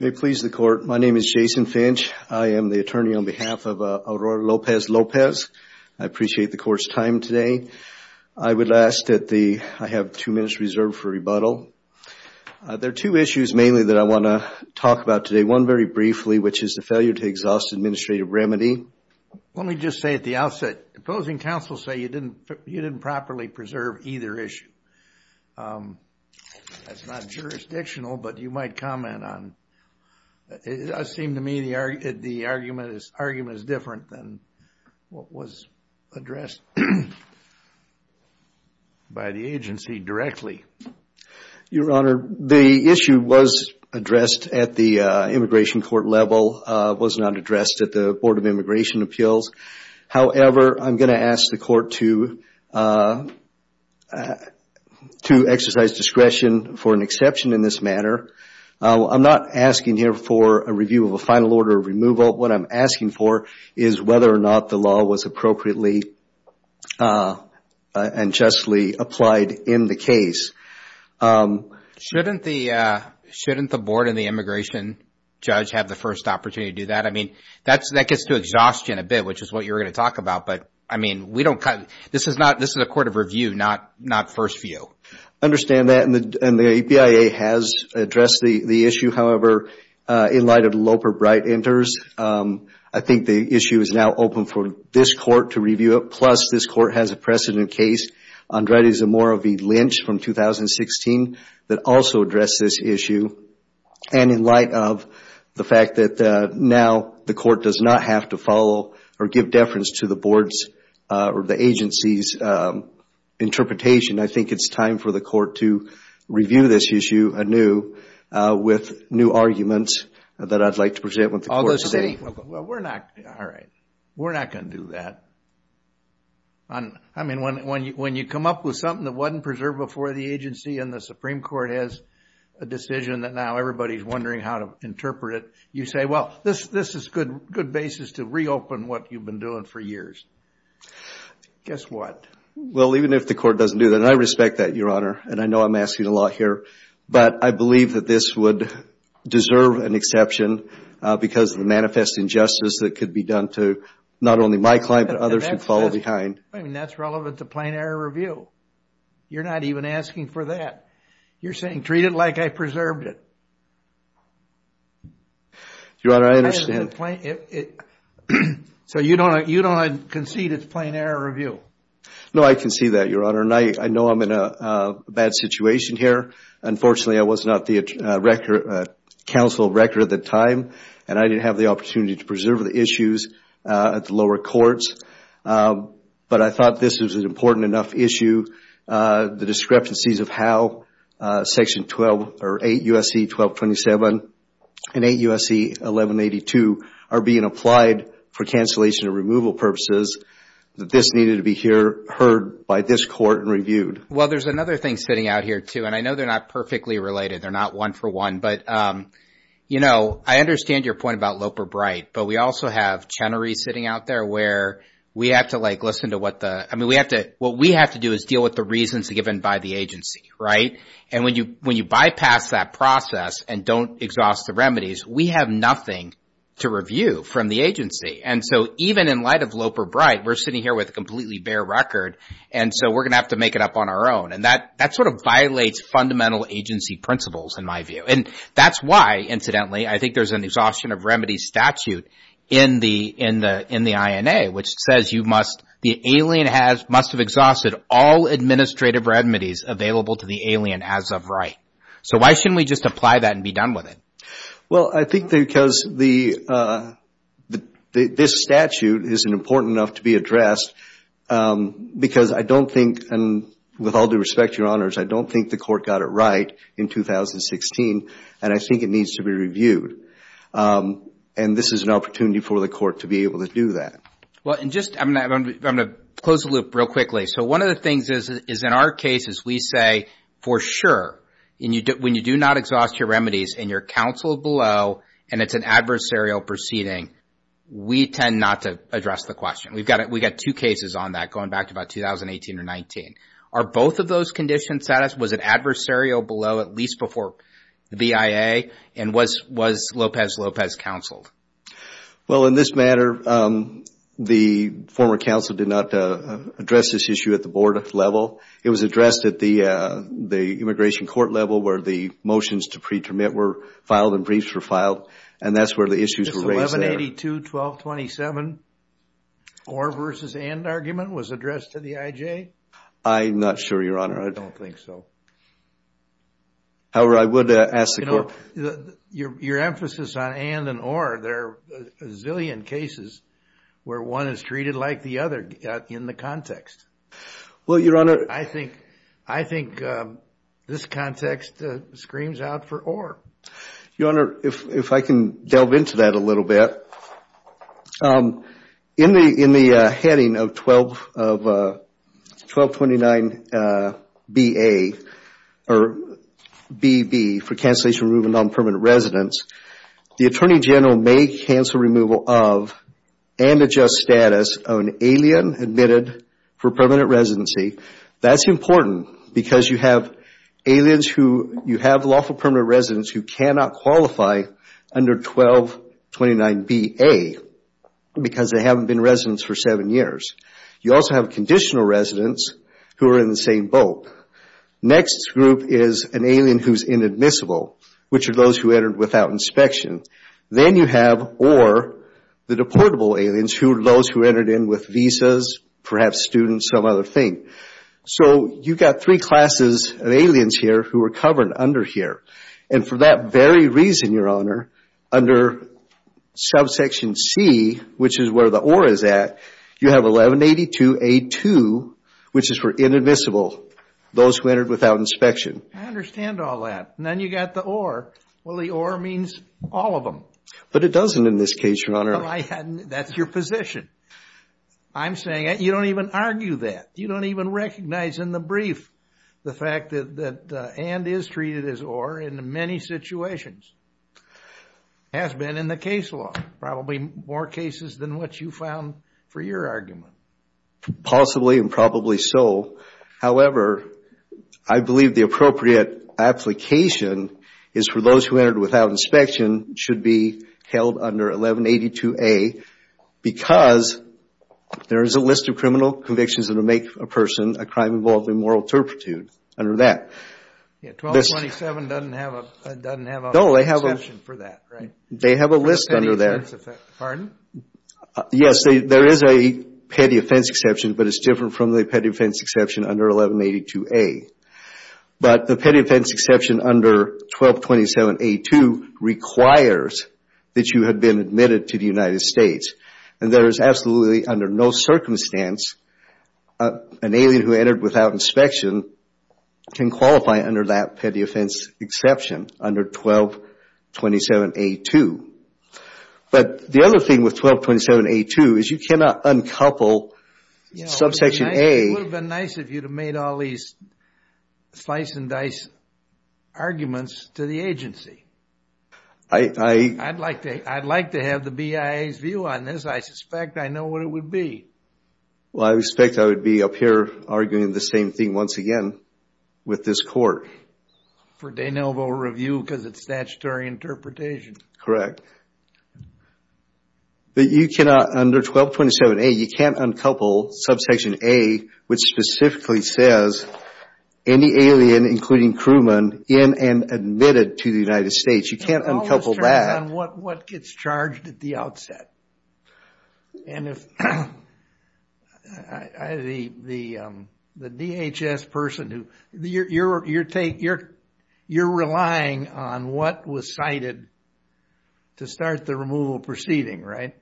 May it please the Court, my name is Jason Finch. I am the attorney on behalf of Aura Lopez-Lopez. I appreciate the Court's time today. I would ask that the, I have two minutes reserved for rebuttal. There are two issues mainly that I want to talk about today. One very briefly, which is the failure to exhaust administrative remedy. Let me just say at the outset, opposing counsel say you didn't properly preserve either issue. That's not jurisdictional, but you might comment on, it seemed to me the argument is different than what was addressed by the agency directly. Your Honor, the issue was addressed at the immigration court level. It was not addressed at the Board of Immigration Appeals. However, I'm going to ask the Court to exercise discretion for an exception in this matter. I'm not asking here for a review of a final order of removal. What I'm asking for is whether or not the law was appropriately and justly applied in the case. Shouldn't the Board and the immigration judge have the first opportunity to do that? That gets to exhaustion a bit, which is what you were going to talk about. This is a court of review, not first view. Understand that, and the BIA has addressed the issue. However, in light of Loper Bright enters, I think the issue is now open for this court to review it. Plus, this court has a precedent case, Andrade Zamora v. Lynch from 2016, that also addressed this issue. In light of the fact that now the court does not have to follow or give deference to the board's or the agency's interpretation, I think it's time for the court to review this issue anew with new arguments that I'd like to present with the court today. We're not going to do that. When you come up with something that wasn't preserved before the agency and the Supreme Court has a decision that now everybody's wondering how to interpret it, you say, well, this is a good basis to reopen what you've been doing for years. Guess what? Well, even if the court doesn't do that, and I respect that, Your Honor, and I know I'm saying a lot here, but I believe that this would deserve an exception because of the manifest injustice that could be done to not only my client, but others who follow behind. That's relevant to plain error review. You're not even asking for that. You're saying, treat it like I preserved it. Your Honor, I understand. So you don't concede it's plain error review? No, I concede that, Your Honor. I know I'm in a bad situation here. Unfortunately, I was not the counsel of record at the time, and I didn't have the opportunity to preserve the issues at the lower courts. But I thought this was an important enough issue. The discrepancies of how 8 U.S.C. 1227 and 8 U.S.C. 1182 are being applied for cancellation and removal purposes, that this needed to be heard by this court and reviewed. Well, there's another thing sitting out here, too, and I know they're not perfectly related. They're not one for one. But I understand your point about Loper Bright, but we also have Chenery sitting out there where we have to listen to what the – I mean, what we have to do is deal with the reasons given by the agency, right? And when you bypass that process and don't exhaust the remedies, we have nothing to review from the agency. And so even in light of Loper Bright, we're sitting here with a completely bare record, and so we're going to have to make it up on our own. And that sort of violates fundamental agency principles, in my view. And that's why, incidentally, I think there's an exhaustion of remedies statute in the INA, which says you must – the alien must have exhausted all administrative remedies available to the alien as of right. So why shouldn't we just apply that and be done with it? Well, I think because the – this statute isn't important enough to be addressed because I don't think – and with all due respect, Your Honors, I don't think the court got it right in 2016, and I think it needs to be reviewed. And this is an opportunity for the court to be able to do that. Well, and just – I'm going to close the loop real quickly. So one of the things is in our cases, we say for sure, when you do not exhaust your remedies and you're counseled below and it's an adversarial proceeding, we tend not to address the question. We've got – we've got two cases on that going back to about 2018 or 19. Are both of those conditions satisfied? Was it adversarial below at least before the BIA? And was Lopez-Lopez counseled? Well, in this matter, the former counsel did not address this issue at the board level. It was addressed at the immigration court level where the motions to pre-termit were filed and briefs were filed, and that's where the issues were raised there. Is 1182-1227, or versus and argument, was addressed to the IJ? I'm not sure, Your Honor. I don't think so. However, I would ask the court – Your emphasis on and and or, there are a zillion cases where one is treated like the other in the context. Well, Your Honor – I think – I think this context screams out for or. Your Honor, if I can delve into that a little bit. In the – in the heading of 12 – of 1229BA, or BB, for cancellation of non-permanent residence, the Attorney General may cancel removal of and adjust status of an alien admitted for permanent residency. That's important because you have aliens who – you have lawful permanent residents who cannot qualify under 1229BA because they haven't been residents for seven years. You also have conditional residents who are in the same boat. Next group is an alien who's inadmissible, which are those who entered without inspection. Then you have or, the deportable aliens who are those who entered in with visas, perhaps students, some other thing. So you've got three classes of aliens here who are covered under here, and for that very reason, Your Honor, under subsection C, which is where the or is at, you have 1182A2, which is for inadmissible, those who entered without inspection. I understand all that. And then you've got the or. Well, the or means all of them. But it doesn't in this case, Your Honor. Well, I hadn't – that's your position. I'm saying – you don't even argue that. You don't even recognize in the brief the fact that – that and is treated as or in many situations has been in the case law, probably more cases than what you found for your argument. Possibly and probably so. However, I believe the appropriate application is for those who entered without inspection should be held under 1182A because there is a list of criminal convictions that would make a person a crime involved in moral turpitude under that. Yeah. 1227 doesn't have a – doesn't have an exception for that, right? They have a list under there. Pardon? Yes. There is a petty offense exception, but it's different from the petty offense exception under 1182A. But the petty offense exception under 1227A2 requires that you have been admitted to the United States. And there is absolutely, under no circumstance, an alien who entered without inspection can qualify under that petty offense exception under 1227A2. But the other thing with 1227A2 is you cannot uncouple subsection A. It would have been nice of you to have made all these slice and dice arguments to the I – I'd like to – I'd like to have the BIA's view on this. I suspect I know what it would be. Well, I expect I would be up here arguing the same thing once again with this court. For de novo review because it's statutory interpretation. Correct. But you cannot, under 1227A, you can't uncouple subsection A, which specifically says any alien, including crewmen, in and admitted to the United States. You can't uncouple that. It depends on what gets charged at the outset. And if the DHS person who – you're relying on what was cited to start the removal proceeding, right?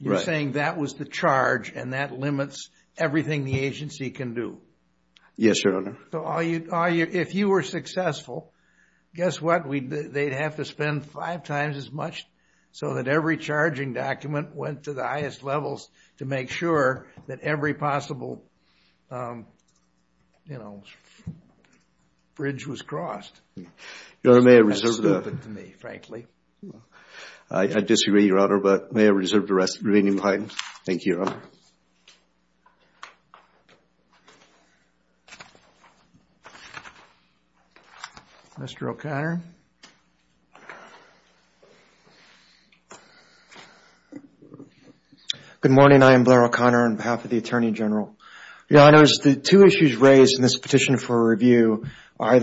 Right. You're saying that was the charge and that limits everything the agency can do. Yes, Your Honor. So if you were successful, guess what? They'd have to spend five times as much so that every charging document went to the highest levels to make sure that every possible, you know, bridge was crossed. Your Honor, may I reserve the – That's stupid to me, frankly. I disagree, Your Honor, but may I reserve the rest of the remaining time? Thank you, Your Honor. Mr. O'Connor. Good morning. I am Blair O'Connor on behalf of the Attorney General. Your Honors, the two issues raised in this petition for review are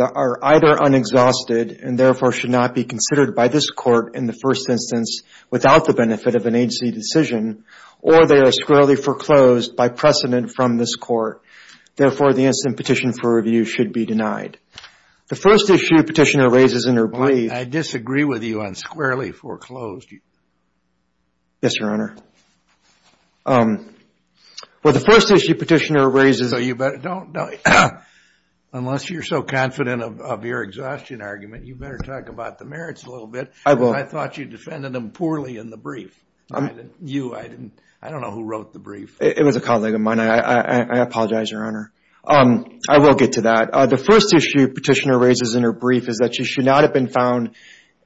either unexhausted and therefore should not be considered by this Court in the first instance without the benefit of an agency decision or they are squarely foreclosed by precedent from this Court. Therefore, the incident petition for review should be denied. The first issue the petitioner raises in her brief – I disagree with you on squarely foreclosed. Yes, Your Honor. Well, the first issue the petitioner raises – So you better don't – unless you're so confident of your exhaustion argument, you better talk about the merits a little bit. I will. I thought you defended them poorly in the brief. You, I didn't – I don't know who wrote the brief. It was a colleague of mine. I apologize, Your Honor. I will get to that. The first issue petitioner raises in her brief is that she should not have been found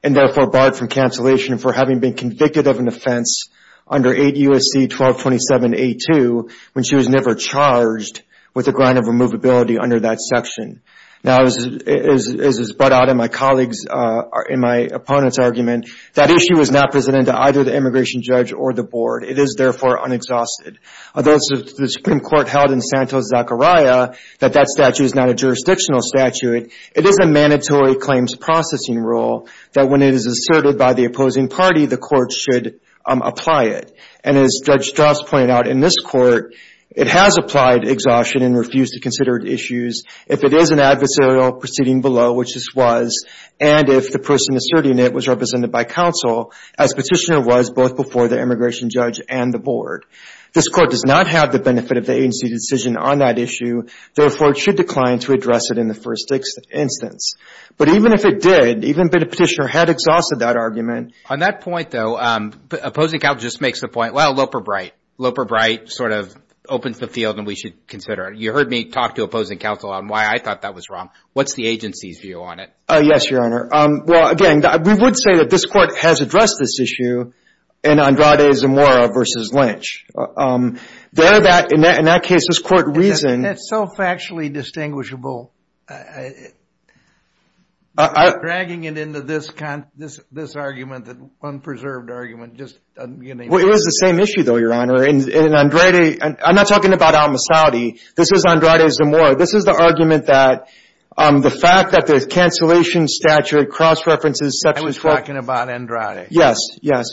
and therefore barred from cancellation for having been convicted of an offense under 8 U.S.C. 1227A2 when she was never charged with a grind of removability under that section. Now, as is brought out in my colleagues – in my opponent's argument, that issue is not presented to either the immigration judge or the board. It is, therefore, unexhausted. Although the Supreme Court held in Santos-Zachariah that that statute is not a jurisdictional statute, it is a mandatory claims processing rule that when it is asserted by the opposing party, the court should apply it. And as Judge Strauss pointed out in this Court, it has applied exhaustion and refused to consider issues if it is an adversarial proceeding below, which this was, and if the person asserting it was represented by counsel, as petitioner was both before the immigration judge and the board. This Court does not have the benefit of the agency's decision on that issue. Therefore, it should decline to address it in the first instance. But even if it did, even if the petitioner had exhausted that argument. On that point, though, opposing counsel just makes the point, well, Loper-Bright. Loper-Bright sort of opens the field and we should consider it. You heard me talk to opposing counsel on why I thought that was wrong. What's the agency's view on it? Yes, Your Honor. Well, again, we would say that this Court has addressed this issue in Andrade Zamora v. Lynch. There, in that case, this Court reasoned. That's self-factually distinguishable. Dragging it into this argument, this unpreserved argument, just, you know. It was the same issue, though, Your Honor. In Andrade, I'm not talking about Al-Masadi. This is Andrade Zamora. This is the argument that the fact that the cancellation statute cross-references section 12. I was talking about Andrade. Yes, yes.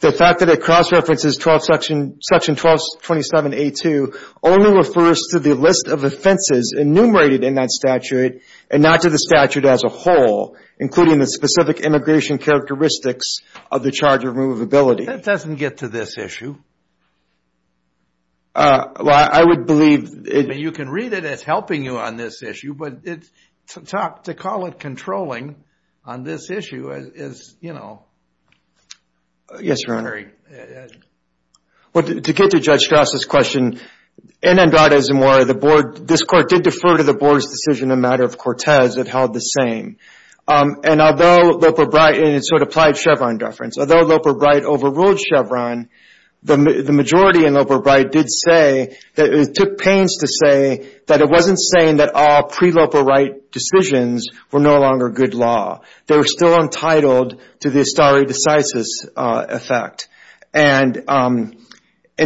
The fact that it cross-references 12, section 1227A2 only refers to the list of offenses enumerated in that statute and not to the statute as a whole, including the specific immigration characteristics of the charge of removability. That doesn't get to this issue. Well, I would believe it... I mean, you can read it as helping you on this issue, but to talk, to call it controlling on this issue is, you know. Yes, Your Honor. To get to Judge Strauss' question, in Andrade Zamora, the Board, this Court did defer to the Board's decision in the matter of Cortez. It held the same. And although Loper Bright, and it sort of applied Chevron deference, although Loper Bright overruled Chevron, the majority in Loper Bright did say, took pains to say, that it wasn't saying that all pre-Loper Wright decisions were no longer good law. They were still entitled to the Astari decisis effect. And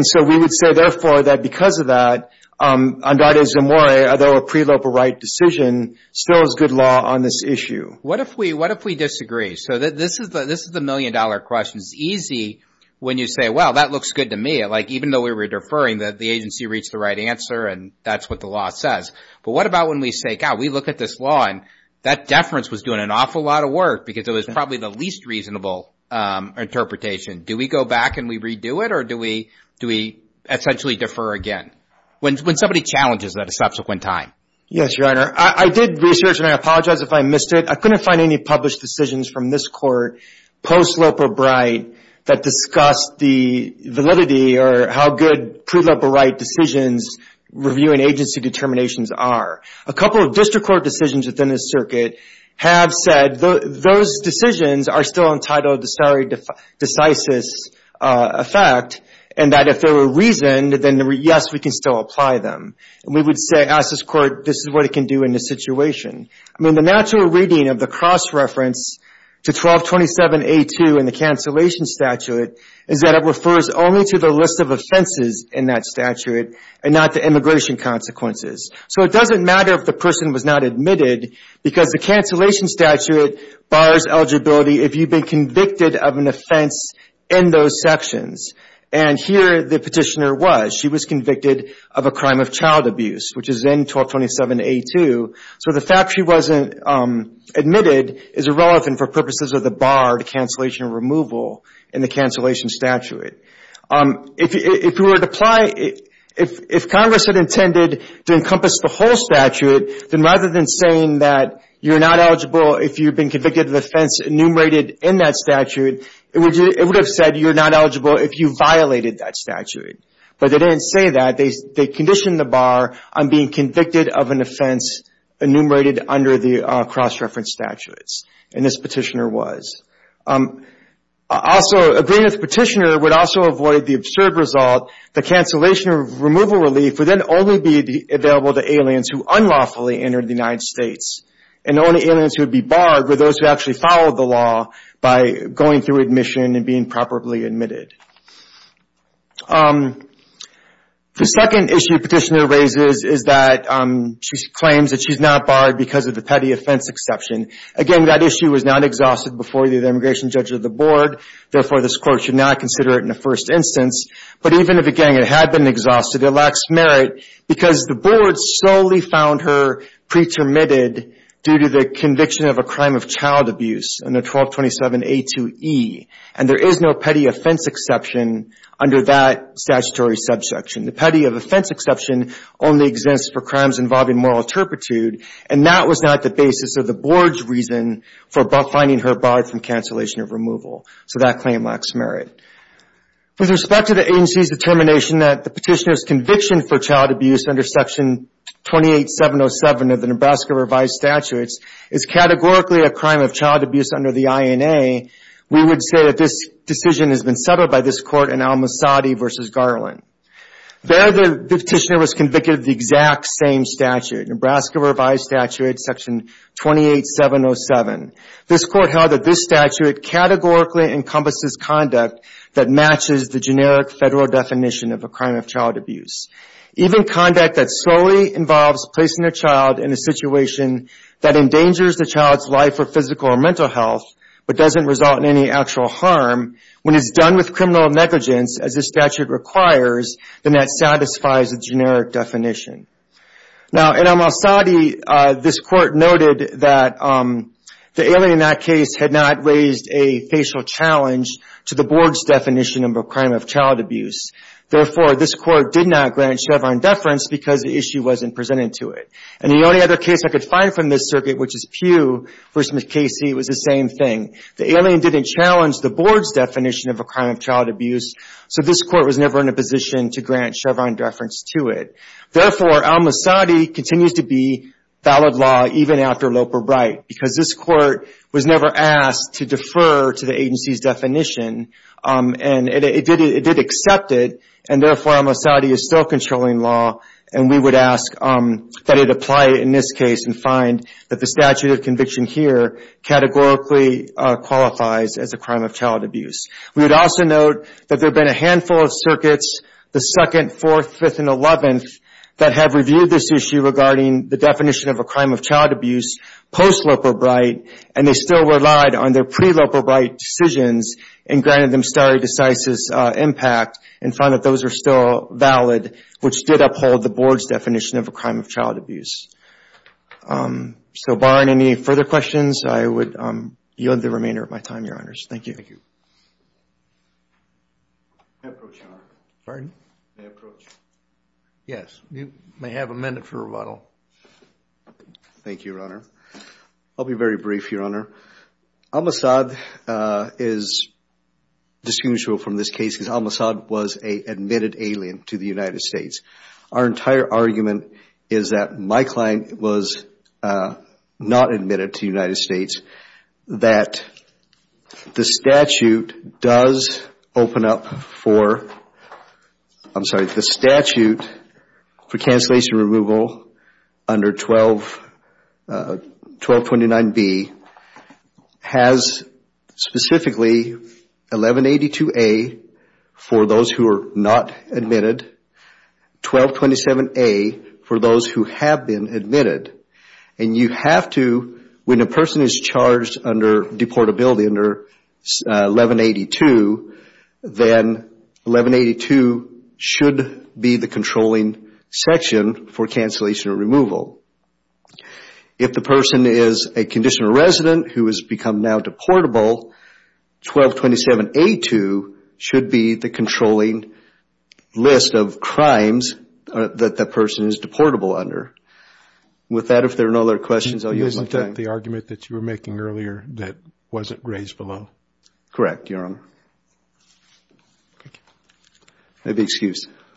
so we would say, therefore, that because of that, Andrade Zamora, although a pre-Loper Wright decision, still is good law on this issue. What if we disagree? So this is the million dollar question. It's easy when you say, well, that looks good to me. Like, even though we were deferring, the agency reached the right answer and that's what the law says. But what about when we say, God, we look at this law and that deference was doing an awful lot of work because it was probably the least reasonable interpretation. Do we go back and we redo it, or do we essentially defer again? When somebody challenges that a subsequent time. Yes, Your Honor. I did research, and I apologize if I missed it. I couldn't find any published decisions from this court post-Loper Bright that discussed the validity or how good pre-Loper Wright decisions review and agency determinations are. A couple of district court decisions within this circuit have said those decisions are still entitled to the Astari decisis effect and that if they were reasoned, then yes, we can still apply them. And we would say, ask this court, this is what it can do in this situation. I mean, the natural reading of the cross-reference to 1227A2 in the cancellation statute is that it refers only to the list of offenses in that statute and not the immigration consequences. So it doesn't matter if the person was not admitted because the cancellation statute bars eligibility if you've been convicted of an offense in those sections. And here the petitioner was. She was convicted of a offense, and then 1227A2. So the fact she wasn't admitted is irrelevant for purposes of the bar to cancellation removal in the cancellation statute. If Congress had intended to encompass the whole statute, then rather than saying that you're not eligible if you've been convicted of an offense enumerated in that statute, it would have said you're not eligible if you violated that statute. But they didn't say that. They conditioned the bar on being convicted of an offense enumerated under the cross-reference statutes. And this petitioner was. Also, agreeing with the petitioner would also avoid the absurd result that cancellation removal relief would then only be available to aliens who unlawfully entered the United States. And the only aliens who would be barred were those who actually followed the law by going through admission and being properly admitted. The second issue the petitioner raises is that she claims that she's not barred because of the petty offense exception. Again, that issue was not exhausted before the immigration judge or the board. Therefore, this court should not consider it in the first instance. But even if, again, it had been exhausted, it lacks merit because the board solely found her pretermitted due to the conviction of a crime of child abuse under 1227A2E. And there is no petty offense exception under that statutory subsection. The petty offense exception only exists for crimes involving moral turpitude. And that was not the basis of the board's reason for finding her barred from cancellation of removal. So that claim lacks merit. With respect to the agency's determination that the petitioner's conviction for child abuse under section 28707 of the Nebraska Revised Statutes is categorically a crime of child abuse under the INA, we would say that this decision has been settled by this court in Al-Masadi v. Garland. There, the petitioner was convicted of the exact same statute, Nebraska Revised Statute section 28707. This court held that this statute categorically encompasses conduct that matches the generic federal definition of a crime of child abuse. Even conduct that solely involves placing a child in a situation that endangers the child's life or physical or mental health, but doesn't result in any actual harm, when it's done with criminal negligence, as the statute requires, then that satisfies the generic definition. Now in Al-Masadi, this court noted that the alien in that case had not raised a facial challenge to the board's definition of a crime of child abuse. Therefore, this court did not grant Chevron deference because the issue wasn't presented to it. And the only other case I could find from this circuit, which is Pugh v. McCasey, was the same thing. The alien didn't challenge the board's definition of a crime of child abuse, so this court was never in a position to grant Chevron deference to it. Therefore, Al-Masadi continues to be valid law, even after Loper Wright, because this court was never asked to defer to the agency's definition. And it did accept it, and therefore Al-Masadi is still controlling law, and we would ask that it apply in this case and find that the statute of conviction here categorically qualifies as a crime of child abuse. We would also note that there have been a handful of circuits, the 2nd, 4th, 5th, and 11th, that have reviewed this issue regarding the definition of a crime of child abuse post Loper Wright, and they still relied on their pre-Loper Wright decisions and granted them stare decisis impact and found that those were still valid, which did uphold the board's definition of a crime of child abuse. So barring any further questions, I would yield the remainder of my time, Your Honors. Thank you. May I approach, Your Honor? Pardon? May I approach? Yes. You may have a minute for rebuttal. Thank you, Your Honor. I'll be very brief, Your Honor. Al-Masadi is disputeful from this case because Al-Masadi was an admitted alien to the United States. Our entire argument is that my client was not admitted to the United States, that the statute does open up for, I'm sorry, the statute for cancellation removal under 1229B has specifically 1182A for those who are not admitted, 1227A for those who have been admitted. When a person is charged under deportability under 1182, then 1182 should be the controlling section for cancellation or removal. If the person is a conditional resident who has become now deportable, 1227A2 should be the controlling list of crimes that the person is deportable under. With that, if there are no other questions, I'll use my time. The argument that you were making earlier that wasn't grazed below? Correct, Your Honor. Thank you. May be excused.